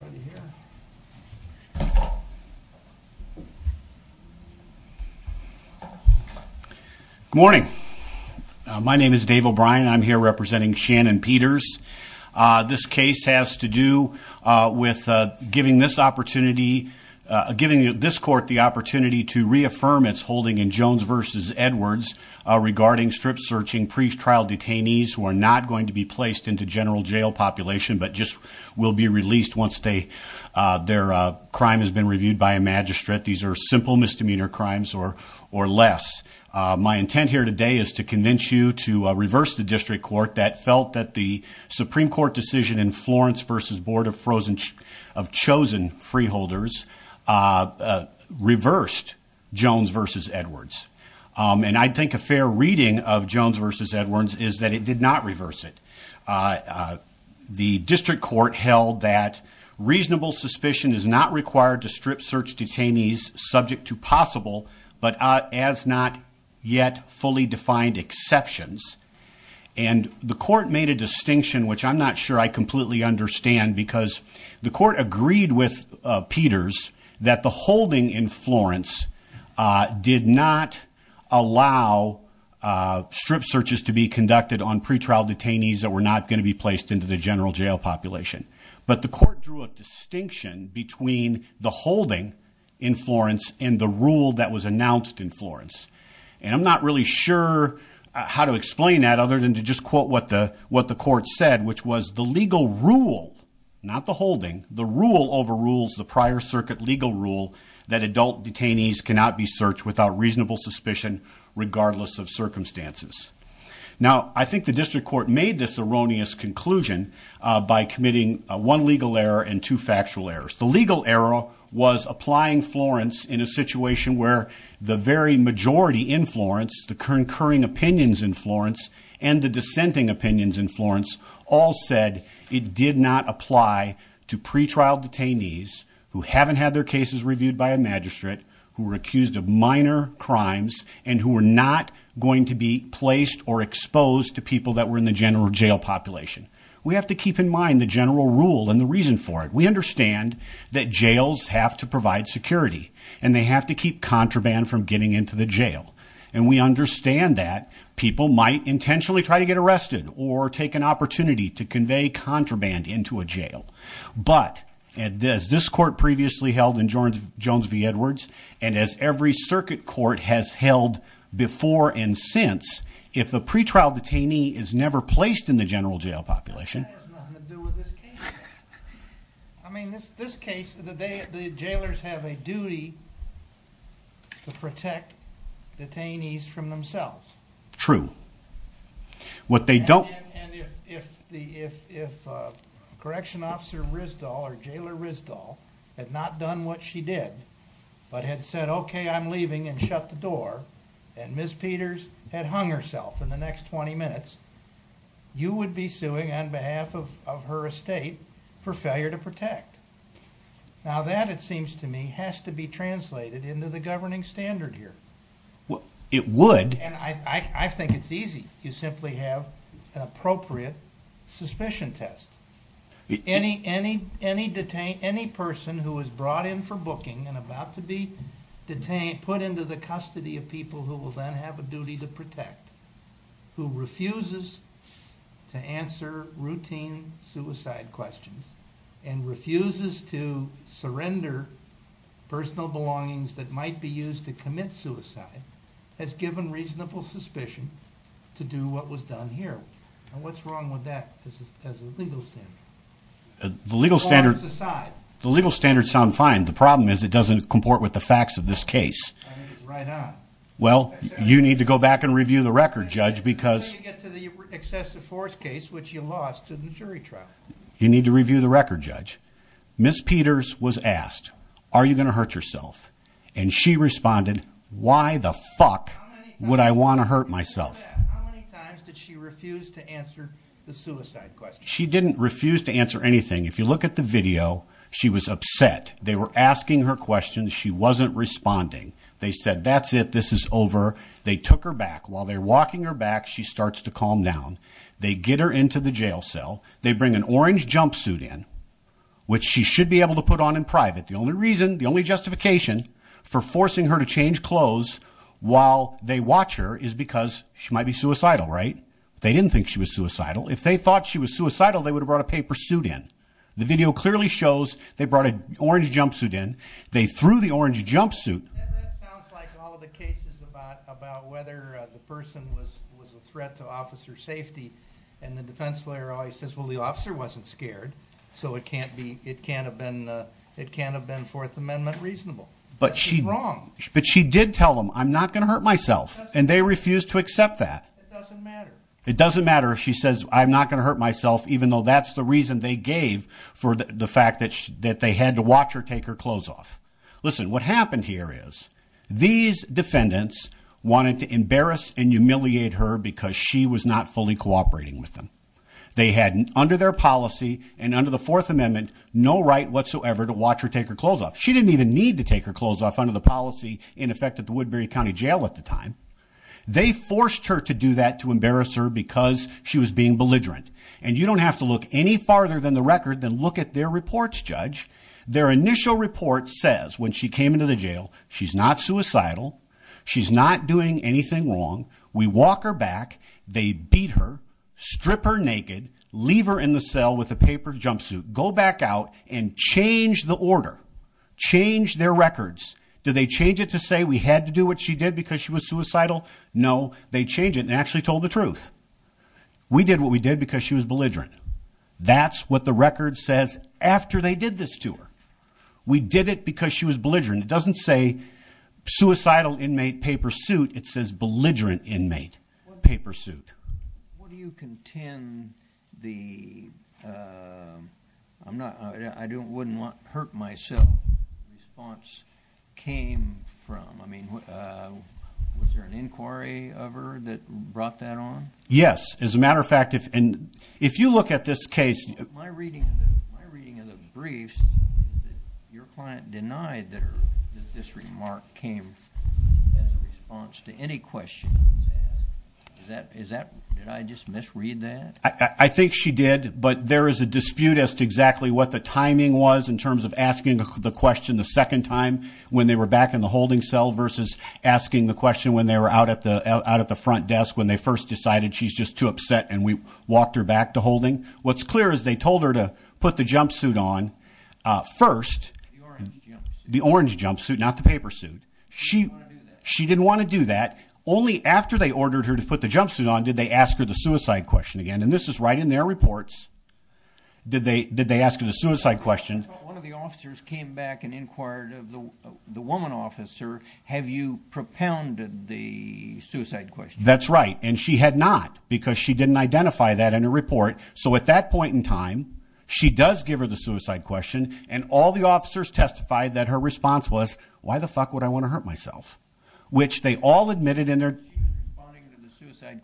Good morning. My name is Dave O'Brien. I'm here representing Shannon Peters. This case has to do with giving this opportunity, giving this court the opportunity to reaffirm its holding in Jones v. Edwards regarding strip-searching pre-trial detainees who are not going to be their crime has been reviewed by a magistrate. These are simple misdemeanor crimes or less. My intent here today is to convince you to reverse the district court that felt that the Supreme Court decision in Florence v. Board of Chosen Freeholders reversed Jones v. Edwards. And I think a fair reading of Jones v. Edwards is that it did not reverse it. The district court held that reasonable suspicion is not required to strip-search detainees subject to possible but as not yet fully defined exceptions. And the court made a distinction which I'm not sure I completely understand because the court agreed with Peters that the holding in not going to be placed into the general jail population. But the court drew a distinction between the holding in Florence and the rule that was announced in Florence. And I'm not really sure how to explain that other than to just quote what the court said which was the legal rule, not the holding, the rule overrules the prior circuit legal rule that adult detainees cannot be searched without reasonable suspicion regardless of circumstances. Now I think district court made this erroneous conclusion by committing one legal error and two factual errors. The legal error was applying Florence in a situation where the very majority in Florence, the concurring opinions in Florence and the dissenting opinions in Florence all said it did not apply to pretrial detainees who haven't had their cases reviewed by a magistrate, who the general jail population. We have to keep in mind the general rule and the reason for it. We understand that jails have to provide security and they have to keep contraband from getting into the jail. And we understand that people might intentionally try to get arrested or take an opportunity to convey contraband into a jail. But as this court previously held in Jones v. Peters, that has nothing to do with this case. I mean this case, the jailers have a duty to protect detainees from themselves. True. What they don't... And if Correction Officer Risdall or Jailer Risdall had not done what she did but had said okay I'm leaving and shut the door and Ms. Peters had hung herself in the next 20 minutes, you would be suing on behalf of her estate for failure to protect. Now that it seems to me has to be translated into the governing standard here. Well it would. And I think it's easy. You simply have an appropriate suspicion test. Any person who is brought in for booking and about to be detained, put into the custody of people who will then have a duty to protect, who refuses to answer routine suicide questions and refuses to surrender personal belongings that might be used to commit suicide, has given reasonable suspicion to do what was done here. And what's wrong with that as a legal standard? The legal standards sound fine. The problem is it doesn't comport with the facts of this case. Well you need to go back and review the record judge because... You need to review the record judge. Ms. Peters was asked, are you going to hurt yourself? And she responded, why the fuck would I want to hurt myself? She didn't refuse to answer anything. If you look at the video, she was upset. They were asking her questions. She wasn't responding. They said, that's it. This is over. They took her back. While they're walking her back, she starts to calm down. They get her into the jail cell. They bring an orange jumpsuit in, which she should be able to put on in private. The only reason, the only justification for forcing her to change clothes while they watch her is because she might be suicidal, right? They didn't think she was suicidal. They brought an orange jumpsuit in. They threw the orange jumpsuit. And that sounds like all the cases about whether the person was a threat to officer safety. And the defense lawyer always says, well, the officer wasn't scared. So it can't have been Fourth Amendment reasonable. But she did tell them, I'm not going to hurt myself. And they refused to accept that. It doesn't matter. It doesn't matter if she says, I'm not going to hurt myself, even though that's the reason they gave for the fact that they had to watch her take her clothes off. Listen, what happened here is these defendants wanted to embarrass and humiliate her because she was not fully cooperating with them. They had under their policy and under the Fourth Amendment, no right whatsoever to watch her take her clothes off. She didn't even need to take her clothes off under the policy in effect at the Woodbury County Jail at the time. They forced her to do that, to embarrass her because she was being belligerent. And you don't have to look any farther than the record than look at their reports, Judge. Their initial report says when she came into the jail, she's not suicidal. She's not doing anything wrong. We walk her back. They beat her, strip her naked, leave her in the cell with a paper jumpsuit, go back out and change the order, change their records. Do they change it to say we had to do what she did because she was suicidal? No, they change it and actually told the truth. We did what we did because she was belligerent. That's what the record says after they did this to her. We did it because she was belligerent. It doesn't say suicidal inmate, paper suit. It says belligerent inmate, paper suit. What do you contend the, I wouldn't want to hurt myself, response came from? I mean, was there an inquiry of her that brought that on? Yes. As a matter of fact, if, and if you look at this case, my reading, my reading of the briefs, your client denied that this remark came as a response to any question. Is that, is that, did I just misread that? I think she did, but there is a dispute as to exactly what the timing was in terms of asking the question the second time when they were back in the holding cell versus asking the question when they were out at the, out at the front desk when they first decided she's just too upset and we walked her back to holding. What's clear is they told her to put the jumpsuit on first, the orange jumpsuit, not the paper suit. She, she didn't want to do that. Only after they ordered her to put the jumpsuit on, did they ask her the suicide question again? And this is right in their reports. Did they, did they ask her the suicide question? One of the officers came back and asked her the suicide question. That's right. And she had not because she didn't identify that in her report. So at that point in time, she does give her the suicide question and all the officers testified that her response was, why the fuck would I want to hurt myself? Which they all admitted in their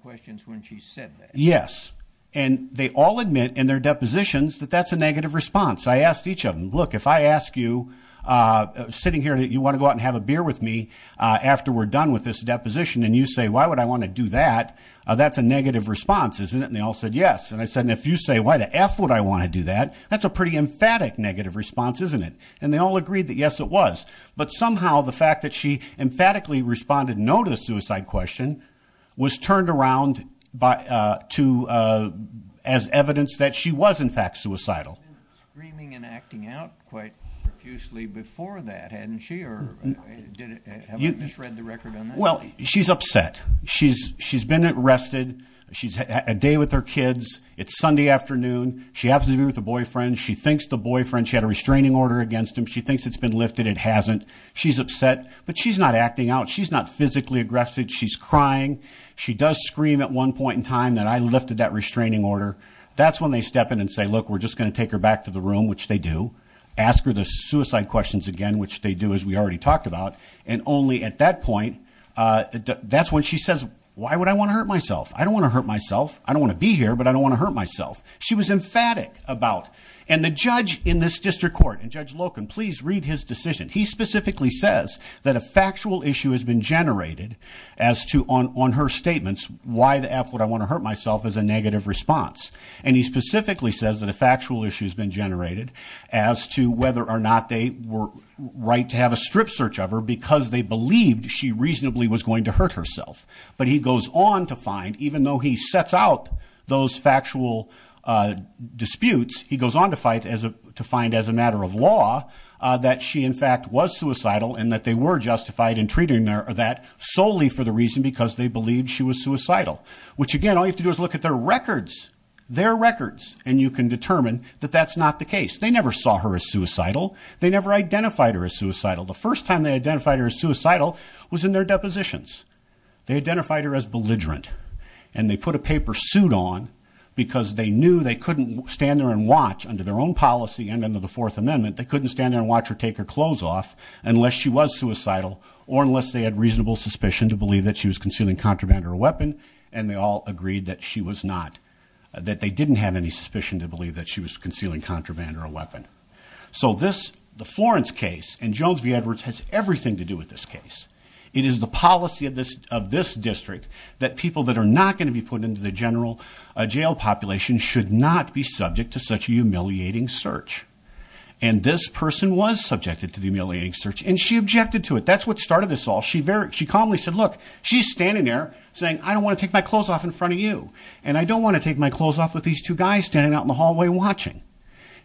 questions when she said that. Yes. And they all admit in their depositions that that's a negative response. I asked each of them, look, if I ask you, uh, sitting here, you want to go out and have a beer with me, uh, after we're done with this deposition? And you say, why would I want to do that? Uh, that's a negative response, isn't it? And they all said, yes. And I said, and if you say, why the F would I want to do that? That's a pretty emphatic negative response, isn't it? And they all agreed that yes, it was. But somehow the fact that she emphatically responded no to the suicide question was turned around by, uh, to, uh, as evidence that she was screaming and acting out quite profusely before that. Hadn't she, or did it have read the record on that? Well, she's upset. She's, she's been arrested. She's had a day with her kids. It's Sunday afternoon. She happens to be with a boyfriend. She thinks the boyfriend, she had a restraining order against him. She thinks it's been lifted. It hasn't. She's upset, but she's not acting out. She's not physically aggressive. She's crying. She does scream at one look, we're just going to take her back to the room, which they do ask her the suicide questions again, which they do as we already talked about. And only at that point, uh, that's when she says, why would I want to hurt myself? I don't want to hurt myself. I don't want to be here, but I don't want to hurt myself. She was emphatic about, and the judge in this district court and judge Loken, please read his decision. He specifically says that a factual issue has been generated as to on, on her statements. Why the F would I want to hurt myself as a negative response. And he specifically says that a factual issue has been generated as to whether or not they were right to have a strip search of her because they believed she reasonably was going to hurt herself. But he goes on to find, even though he sets out those factual, uh, disputes, he goes on to fight as a, to find as a matter of law, uh, that she in fact was suicidal and that they were justified in treating that solely for the reason because they believed she was suicidal, which again, all you do is look at their records, their records, and you can determine that that's not the case. They never saw her as suicidal. They never identified her as suicidal. The first time they identified her as suicidal was in their depositions. They identified her as belligerent and they put a paper suit on because they knew they couldn't stand there and watch under their own policy. And under the fourth amendment, they couldn't stand there and watch her take her clothes off unless she was suicidal or unless they had reasonable suspicion to believe that she was contraband or a weapon. And they all agreed that she was not, that they didn't have any suspicion to believe that she was concealing contraband or a weapon. So this, the Florence case and Jones v. Edwards has everything to do with this case. It is the policy of this, of this district that people that are not going to be put into the general jail population should not be subject to such a humiliating search. And this person was subjected to the humiliating search and she objected to it. That's what started this all. She very, she calmly said, look, she's standing there saying, I don't want to take my clothes off in front of you. And I don't want to take my clothes off with these two guys standing out in the hallway watching.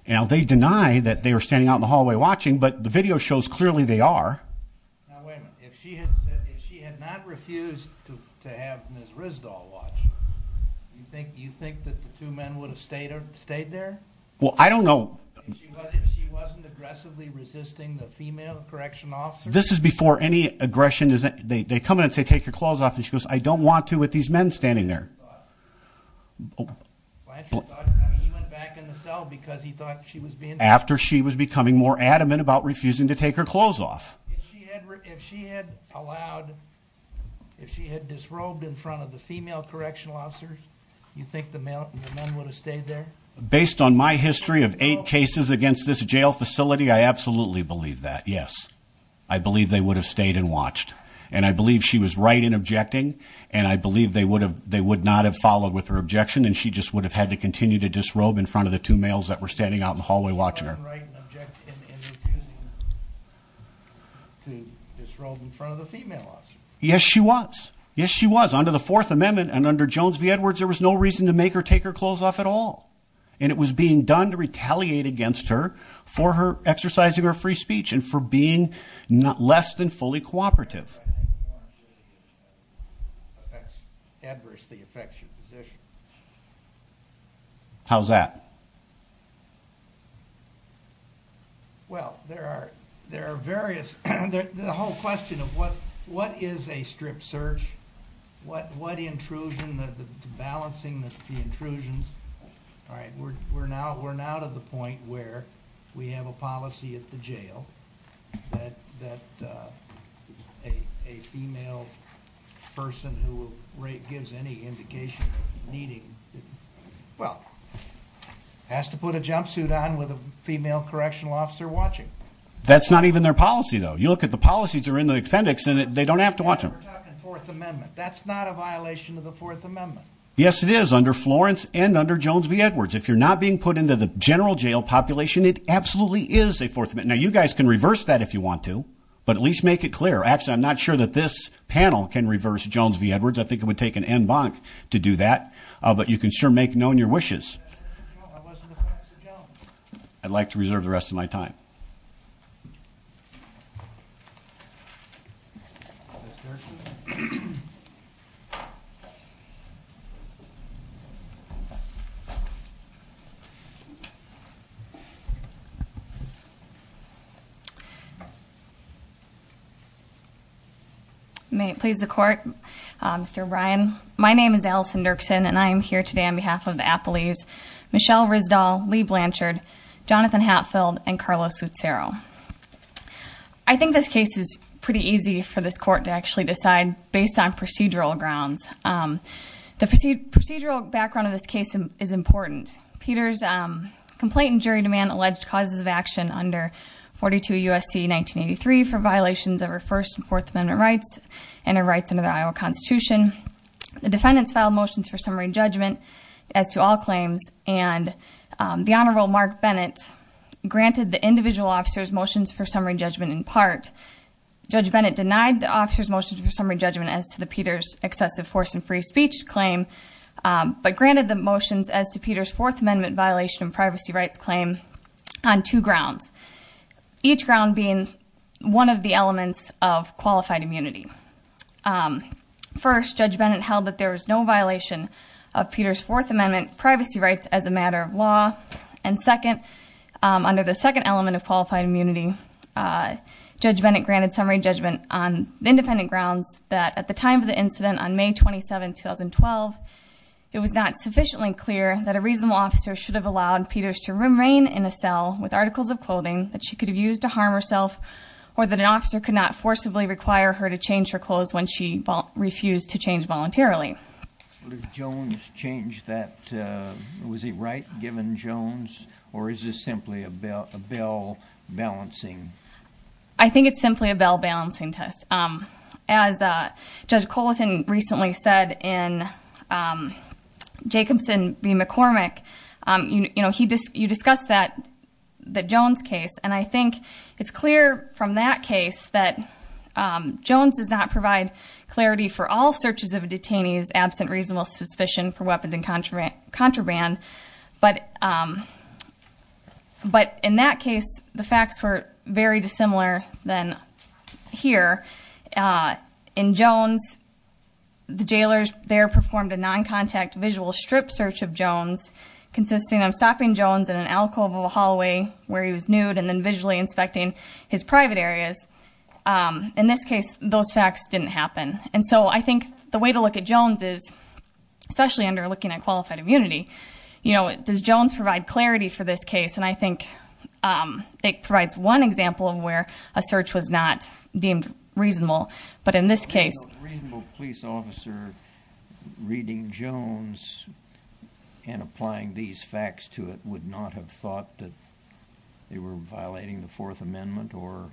Now they deny that they were standing out in the hallway watching, but the video shows clearly they are. Now wait a minute, if she had said, if she had not refused to have Ms. Rizdahl watch, you think, you think that the two men would have stayed, stayed there? Well, I don't know. If she wasn't aggressively resisting the female correction officer? This is before any aggression they come in and say, take your clothes off. And she goes, I don't want to with these men standing there. He went back in the cell because he thought she was being, after she was becoming more adamant about refusing to take her clothes off. If she had allowed, if she had disrobed in front of the female correctional officers, you think the male, the men would have stayed there? Based on my history of eight cases against this jail facility, I absolutely believe that. Yes. I believe they would have stayed and watched. And I believe she was right in objecting. And I believe they would have, they would not have followed with her objection. And she just would have had to continue to disrobe in front of the two males that were standing out in the hallway watching her. Yes, she was. Yes, she was under the fourth amendment and under Jones v. Edwards. There was no reason to make her take her clothes off at all. And it was being done to retaliate against her for her exercising her free speech and for being less than fully cooperative. How's that? Well, there are, there are various, the whole question of what, what is a strip search? What, what intrusion, the balancing, the intrusions. All right. We're, we're now, we're now to the point where we have a policy at the jail that, that, uh, a, a female person who will rate gives any indication of needing, well, has to put a jumpsuit on with a female correctional officer watching. That's not even their policy though. You look at the policies are in the appendix and they don't have to watch them. Fourth amendment. That's not a violation of the fourth amendment. Yes, it is under Florence and under Jones v. Edwards. If you're not being put into the general jail population, it absolutely is a fourth amendment. Now you guys can reverse that if you want to, but at least make it clear. Actually, I'm not sure that this panel can reverse Jones v. Edwards. I think it would take an end bonk to do that. Uh, but you can sure make known your wishes. I'd like to reserve the rest of my time. May it please the court. Um, Mr. Brian, my name is Alison Dirksen and I am here today on behalf of the Appleys, Michelle Rizdal, Lee Blanchard, Jonathan Hatfield, and Carlos Utsero. I think this case is pretty easy for this court to actually decide based on procedural grounds. Um, the procedural background of this case is important. Peters, um, complaint in jury demand alleged causes of action under 42 U.S.C. 1983 for violations of her first and fourth amendment rights and her rights under the Iowa constitution. The defendants filed motions for summary judgment as to all claims. And, um, the honorable Mark Bennett granted the individual officer's motions for summary judgment in part. Judge Bennett denied the officer's motions for summary judgment as to the Peters excessive force and free speech claim. Um, but granted the motions as to Peter's fourth amendment violation and privacy rights claim on two grounds, each ground being one of the elements of qualified immunity. Um, first judge Bennett held that there was no of Peter's fourth amendment privacy rights as a matter of law. And second, um, under the second element of qualified immunity, uh, judge Bennett granted summary judgment on independent grounds that at the time of the incident on May 27, 2012, it was not sufficiently clear that a reasonable officer should have allowed Peters to remain in a cell with articles of clothing that she could have used to harm herself or that an officer could not forcibly require her to change her clothes when she refused to change voluntarily. What if Jones changed that, uh, was he right given Jones or is this simply a bell balancing? I think it's simply a bell balancing test. Um, as, uh, judge Coleton recently said in, um, Jacobson v. McCormick, um, you know, he, you discussed that, that Jones case. And I think it's clear from that case that, um, Jones does not provide clarity for all searches of detainees absent reasonable suspicion for weapons and contraband, contraband. But, um, but in that case, the facts were very dissimilar than here, uh, in Jones, the jailers there performed a non-contact visual strip search of Jones consisting of stopping Jones in an alcove of a hallway where he was nude and then visually inspecting his private areas. Um, in this case, those facts didn't happen. And so I think the way to look at Jones is, especially under looking at qualified immunity, you know, does Jones provide clarity for this case? And I think, um, it provides one example of where a search was not deemed reasonable, but in this case, reasonable police officer reading Jones and applying these facts to it would not have thought that they were violating the fourth amendment or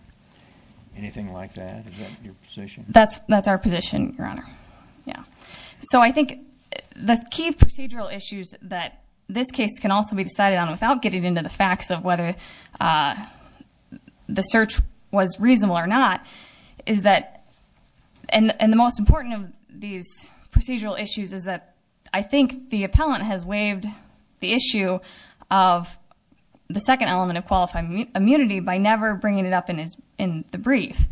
anything like that. Is that your position? That's, that's our position, your honor. Yeah. So I think the key procedural issues that this case can also be decided on without getting into the facts of whether, uh, the search was reasonable or not is that, and the most important of these procedural issues is that I think the appellant has waived the issue of the second element of qualified immunity by never bringing it up in his, in the brief.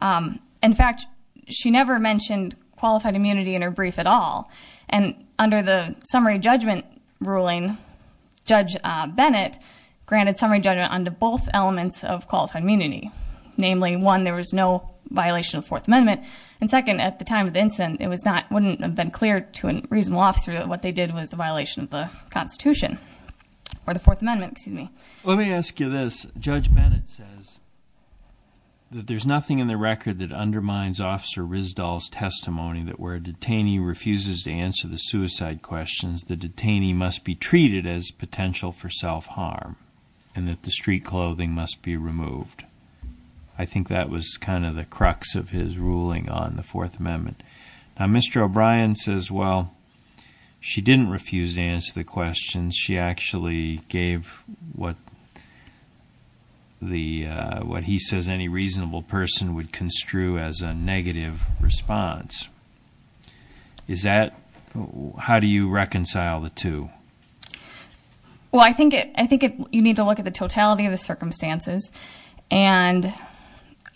Um, in fact, she never mentioned qualified immunity in her brief at all. And under the summary judgment ruling, Judge Bennett granted summary judgment onto both elements of qualified immunity. Namely one, there was no violation of fourth amendment. And second, at the time of the incident, it was not, wouldn't have been clear to a reasonable officer that what they did was a violation of the constitution or the fourth amendment. Excuse me. Let me ask you this. Judge Bennett says that there's nothing in the record that undermines officer Rizdal's testimony that where a detainee refuses to answer the suicide questions, the detainee must be treated as potential for self harm and that the street clothing must be removed. I think that was kind of the crux of his ruling on the fourth amendment. Now, Mr. O'Brien says, well, she didn't refuse to answer the questions. She actually gave what the, uh, what he says any reasonable person would construe as a negative response. Is that, how do you reconcile the two? Well, I think it, I think it, you need to look at the totality of the circumstances and,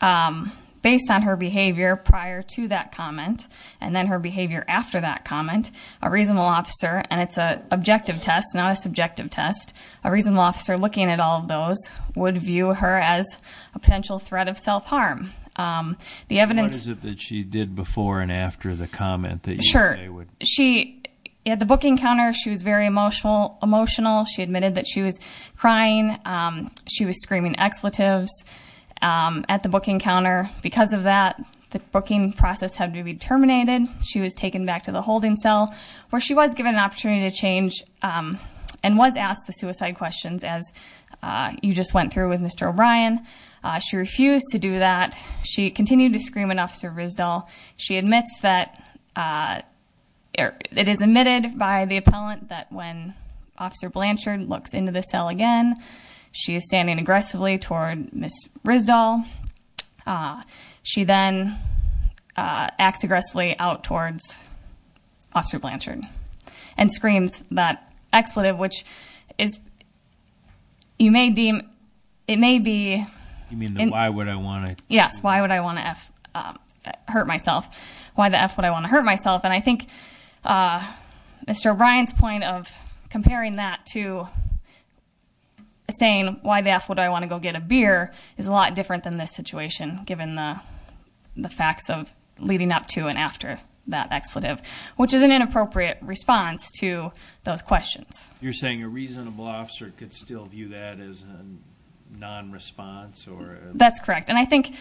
um, based on her behavior prior to that comment and then her behavior after that comment, a reasonable officer, and it's a objective test, not a subjective test. A reasonable officer looking at all of those would view her as a potential threat of self harm. Um, the evidence is that she did before and after the comment that you would, she had the booking counter. She was very emotional, emotional. She admitted that she was crying. Um, she was screaming expletives, um, at the booking counter because of that, the booking process had to be terminated. She was taken back to the holding cell where she was given an opportunity to change, um, and was asked the suicide questions as, uh, you just went through with Mr. O'Brien. Uh, she refused to do that. She continued to scream enough service doll. She admits that, uh, it is admitted by the appellant that when officer Blanchard looks into the cell again, she is standing aggressively toward Ms. Riz doll. Uh, she then, uh, acts aggressively out towards officer Blanchard and screams that expletive, which is, you may deem it may be, you mean the, why would I want to? Yes. Why would I want to F, um, hurt myself? Why the F would I want to hurt myself? And I think, uh, Mr. O'Brien's point of comparing that to saying why the F would I want to go get a beer is a lot different than this situation given the, the facts of leading up to and after that expletive, which is an inappropriate response to those questions. You're saying a reasonable officer could still view that as a non-response that's correct. And I think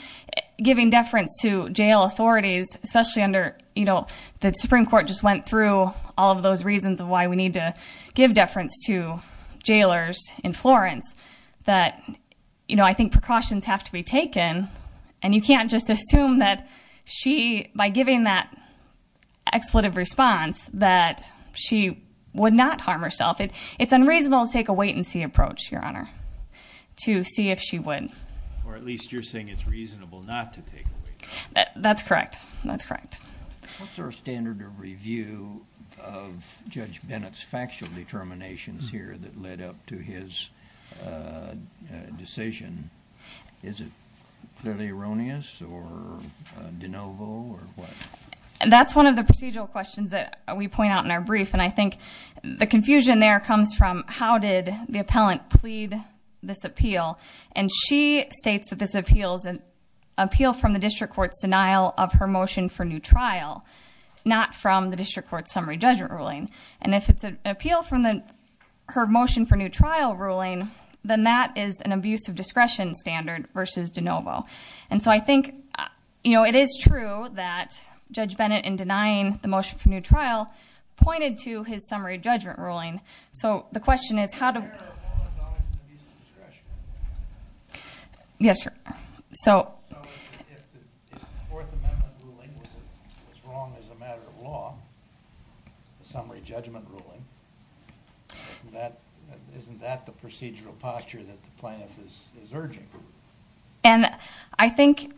giving deference to jail authorities, especially under, you know, the Supreme court just went through all of those reasons of why we need to give deference to jailers in Florence that, you know, I think precautions have to be taken and you can't just assume that she, by giving that expletive response that she would not harm herself. It's reasonable to take a wait and see approach your honor to see if she would, or at least you're saying it's reasonable not to take away. That's correct. That's correct. What's our standard of review of judge Bennett's factual determinations here that led up to his decision? Is it clearly erroneous or de novo or what? That's one of the procedural questions that we point out in our how did the appellant plead this appeal? And she states that this appeals and appeal from the district court's denial of her motion for new trial, not from the district court summary judgment ruling. And if it's an appeal from the, her motion for new trial ruling, then that is an abuse of discretion standard versus de novo. And so I think, you know, it is true that judge Bennett in denying the motion for new trial pointed to his summary judgment ruling. So the question is how to. Yes, sir. So if the fourth amendment ruling was wrong as a matter of law, the summary judgment ruling, that isn't that the procedural posture that the plaintiff is urging? And I think,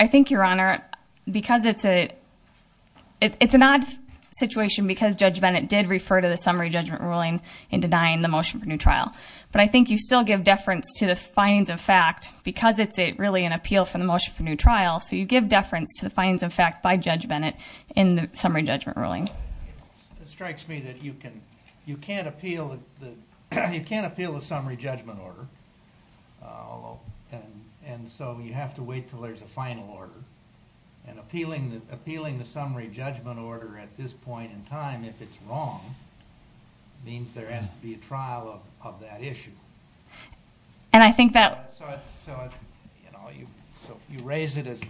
I think your honor, because it's a, it's an odd situation because judge Bennett did refer to the summary judgment ruling in denying the motion for new trial. But I think you still give deference to the findings of fact because it's a really an appeal for the motion for new trial. So you give deference to the findings of fact by judge Bennett in the summary judgment ruling. It strikes me that you can, you can't appeal the, you can't appeal the summary judgment order. And so you have to wait till there's a final order. And appealing the, appealing the summary judgment order at this point in time, if it's wrong, means there has to be a trial of that issue. And I think that. So, you know, you, so you raise it as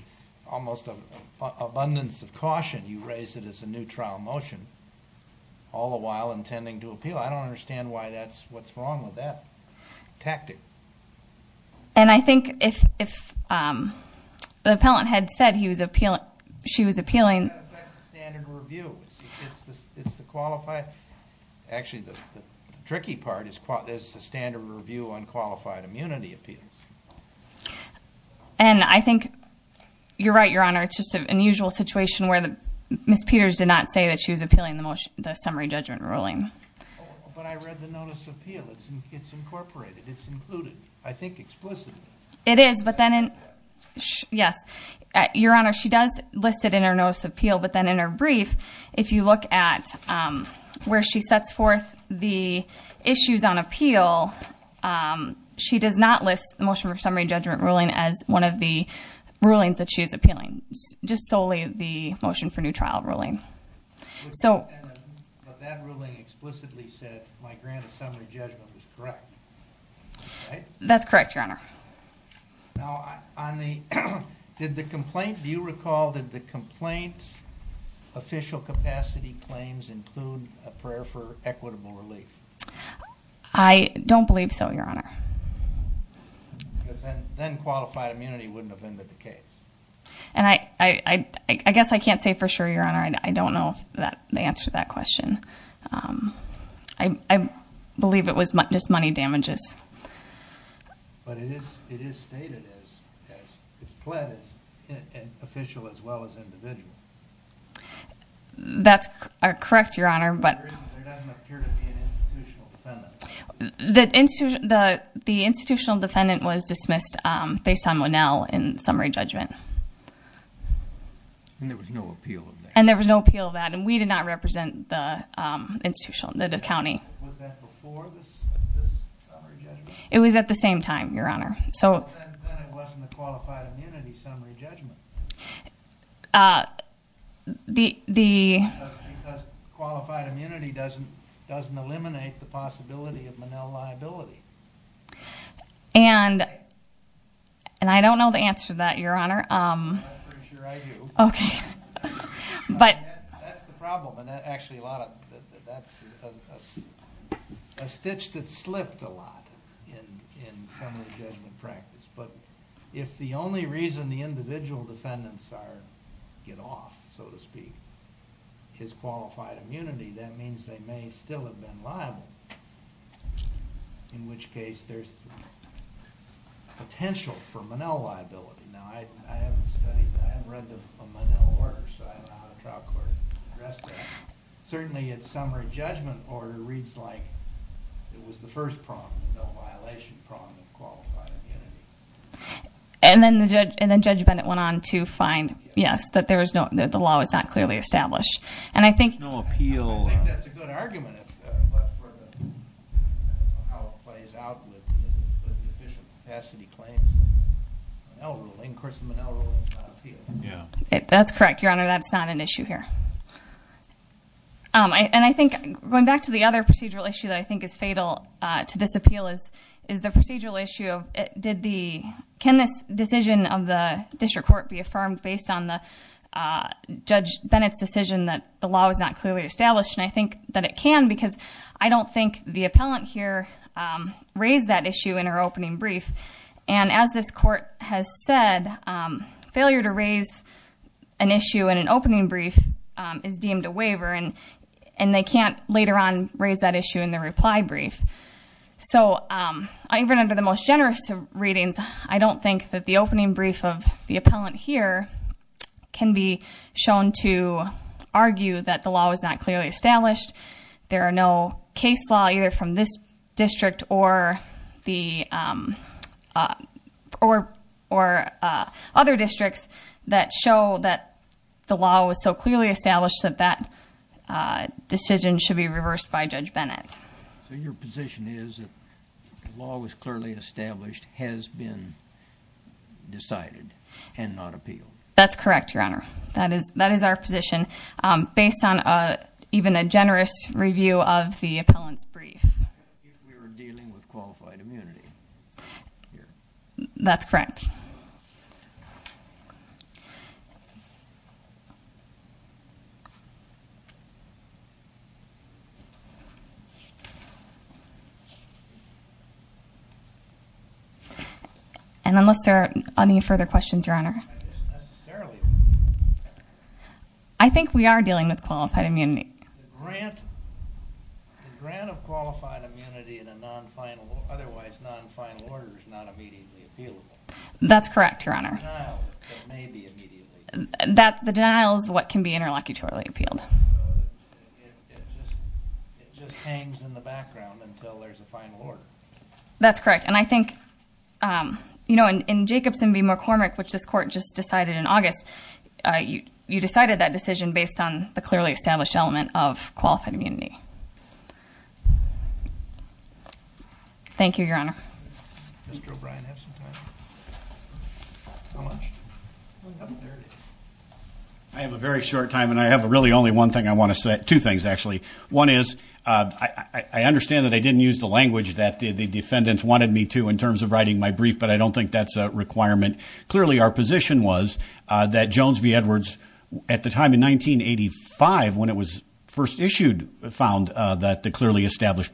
almost an abundance of caution. You raise it as a new trial motion, all the while intending to appeal. I don't understand why that's, what's wrong with that tactic. And I think if, if the appellant had said he was appealing, she was appealing. That's the standard review. It's the, it's the qualified. Actually, the tricky part is the standard review on qualified immunity appeals. And I think you're right, your honor. It's just an unusual situation where the Ms. Peters did not say that she was appealing the motion, the summary judgment ruling. But I read the notice of appeal. It's incorporated. It's included. I think explicitly. It is, but then, yes, your honor, she does list it in her notice of appeal. But then in her brief, if you look at where she sets forth the issues on appeal, she does not list the motion for summary judgment ruling as one of the rulings that she is appealing. Just solely the motion for new trial ruling. So. But that ruling explicitly said my grant of summary judgment was correct, right? That's correct, your honor. Now, on the, did the complaint, do you recall that the complaint's official capacity claims include a prayer for equitable relief? I don't believe so, your honor. Because then, then qualified immunity wouldn't have ended the case. And I, I, I, I guess I can't say for sure, your honor. I don't know if that, the answer to that question. I, I believe it was just money damages. But it is, it is stated as, as it's pled as an official as well as individual. That's correct, your honor, but. There doesn't appear to be an institutional defendant. The institution, the, the institutional defendant was dismissed based on Linnell in summary judgment. And there was no appeal of that. And there was no appeal of that. And we did not represent the institution, the county. Was that before this, this summary judgment? It was at the same time, your honor. So. Then it wasn't a qualified immunity summary judgment. The, the. Because qualified immunity doesn't, doesn't eliminate the possibility of Linnell liability. And, and I don't know the answer to that, your honor. I'm pretty sure I do. Okay. But. That's the problem. And actually a lot of, that's a, a stitch that slipped a lot in, in summary judgment practice. But if the only reason the individual defendants are, get off, so to speak, is qualified immunity, that means they may still have been liable. In which case there's potential for Linnell liability. Now I, I haven't studied, I haven't read the Linnell order, so I don't know how the trial court addressed that. Certainly it's summary judgment order reads like it was the first problem, the no violation problem of qualified immunity. And then the judge, and then Judge Bennett went on to find, yes, that there was no, that the law was not clearly established. And I think. There's no appeal. I think that's a good argument as far as how it plays out with deficient capacity claims. Linnell ruling, of course the Linnell ruling is not an appeal. Yeah. That's correct, your honor. That's not an issue here. I, and I think going back to the other procedural issue that I think is fatal to this appeal is, is the procedural issue of, did the, can this decision of the district court be affirmed based on the Judge Bennett's decision that the law was not clearly established? And I think that it can because I don't think the appellant here raised that issue in her opening is deemed a waiver and they can't later on raise that issue in the reply brief. So even under the most generous of readings, I don't think that the opening brief of the appellant here can be shown to argue that the law was not clearly established. There are no from this district or the, um, uh, or, or, uh, other districts that show that the law was so clearly established that that, uh, decision should be reversed by Judge Bennett. So your position is law was clearly established, has been decided and not appeal. That's correct, your honor. That is, that is our position. Um, based on, uh, even a generous review of the appellant's brief, we were dealing with qualified immunity here. That's correct. And unless there are any further questions, your honor, I think we are dealing with qualified immunity. That's correct, your honor. That the denial is what can be interlocutorily appealed. It just hangs in the background until there's a final order. That's correct. And I think, um, you know, in Jacobson v. McCormick, which this court just decided in August, uh, you, you decided that decision based on the clearly established element of qualified immunity. Thank you, your honor. Mr. O'Brien have some time. How much? I have a very short time and I have a really only one thing I want to say, two things actually. One is, uh, I, I understand that I didn't use the language that the defendants wanted me to in terms of writing my brief, but I don't think that's a requirement. Clearly our position was, uh, that Jones v. Edwards at the time in 1985, when it was first issued, found, uh, that the established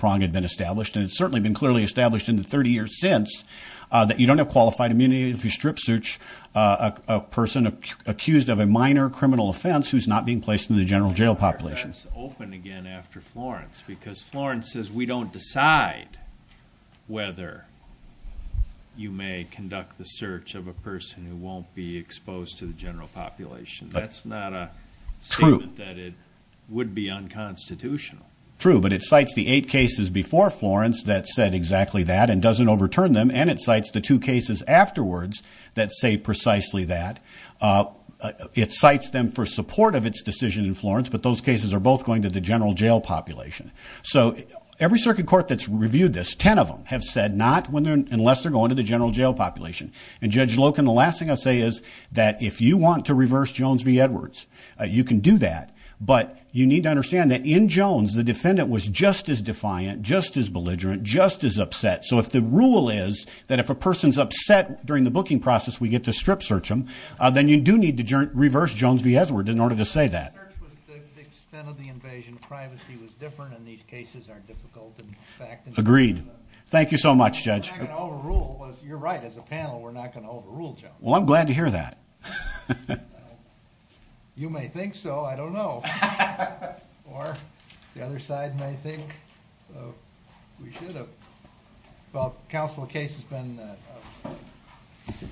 in the 30 years since, uh, that you don't have qualified immunity if you strip search, uh, a person accused of a minor criminal offense, who's not being placed in the general jail population. That's open again after Florence, because Florence says we don't decide whether you may conduct the search of a person who won't be exposed to the general population. That's not a statement that it would be unconstitutional. True, but it cites the eight cases before Florence that said exactly that and doesn't overturn them. And it cites the two cases afterwards that say precisely that, uh, it cites them for support of its decision in Florence, but those cases are both going to the general jail population. So every circuit court that's reviewed this, 10 of them have said not when they're, unless they're going to the general jail population and judge Loken. The last thing I say is that if you want to reverse Jones v. Edwards, you can do that, but you need to understand that in Jones, the defendant was just as defiant, just as belligerent, just as upset. So if the rule is that if a person's upset during the booking process, we get to strip search them, uh, then you do need to reverse Jones v. Edwards in order to say that. Agreed. Thank you so much, judge. Well, I'm glad to hear that. I don't know. You may think so. I don't know. Or the other side may think we should have. Well, counsel, the case has been, uh,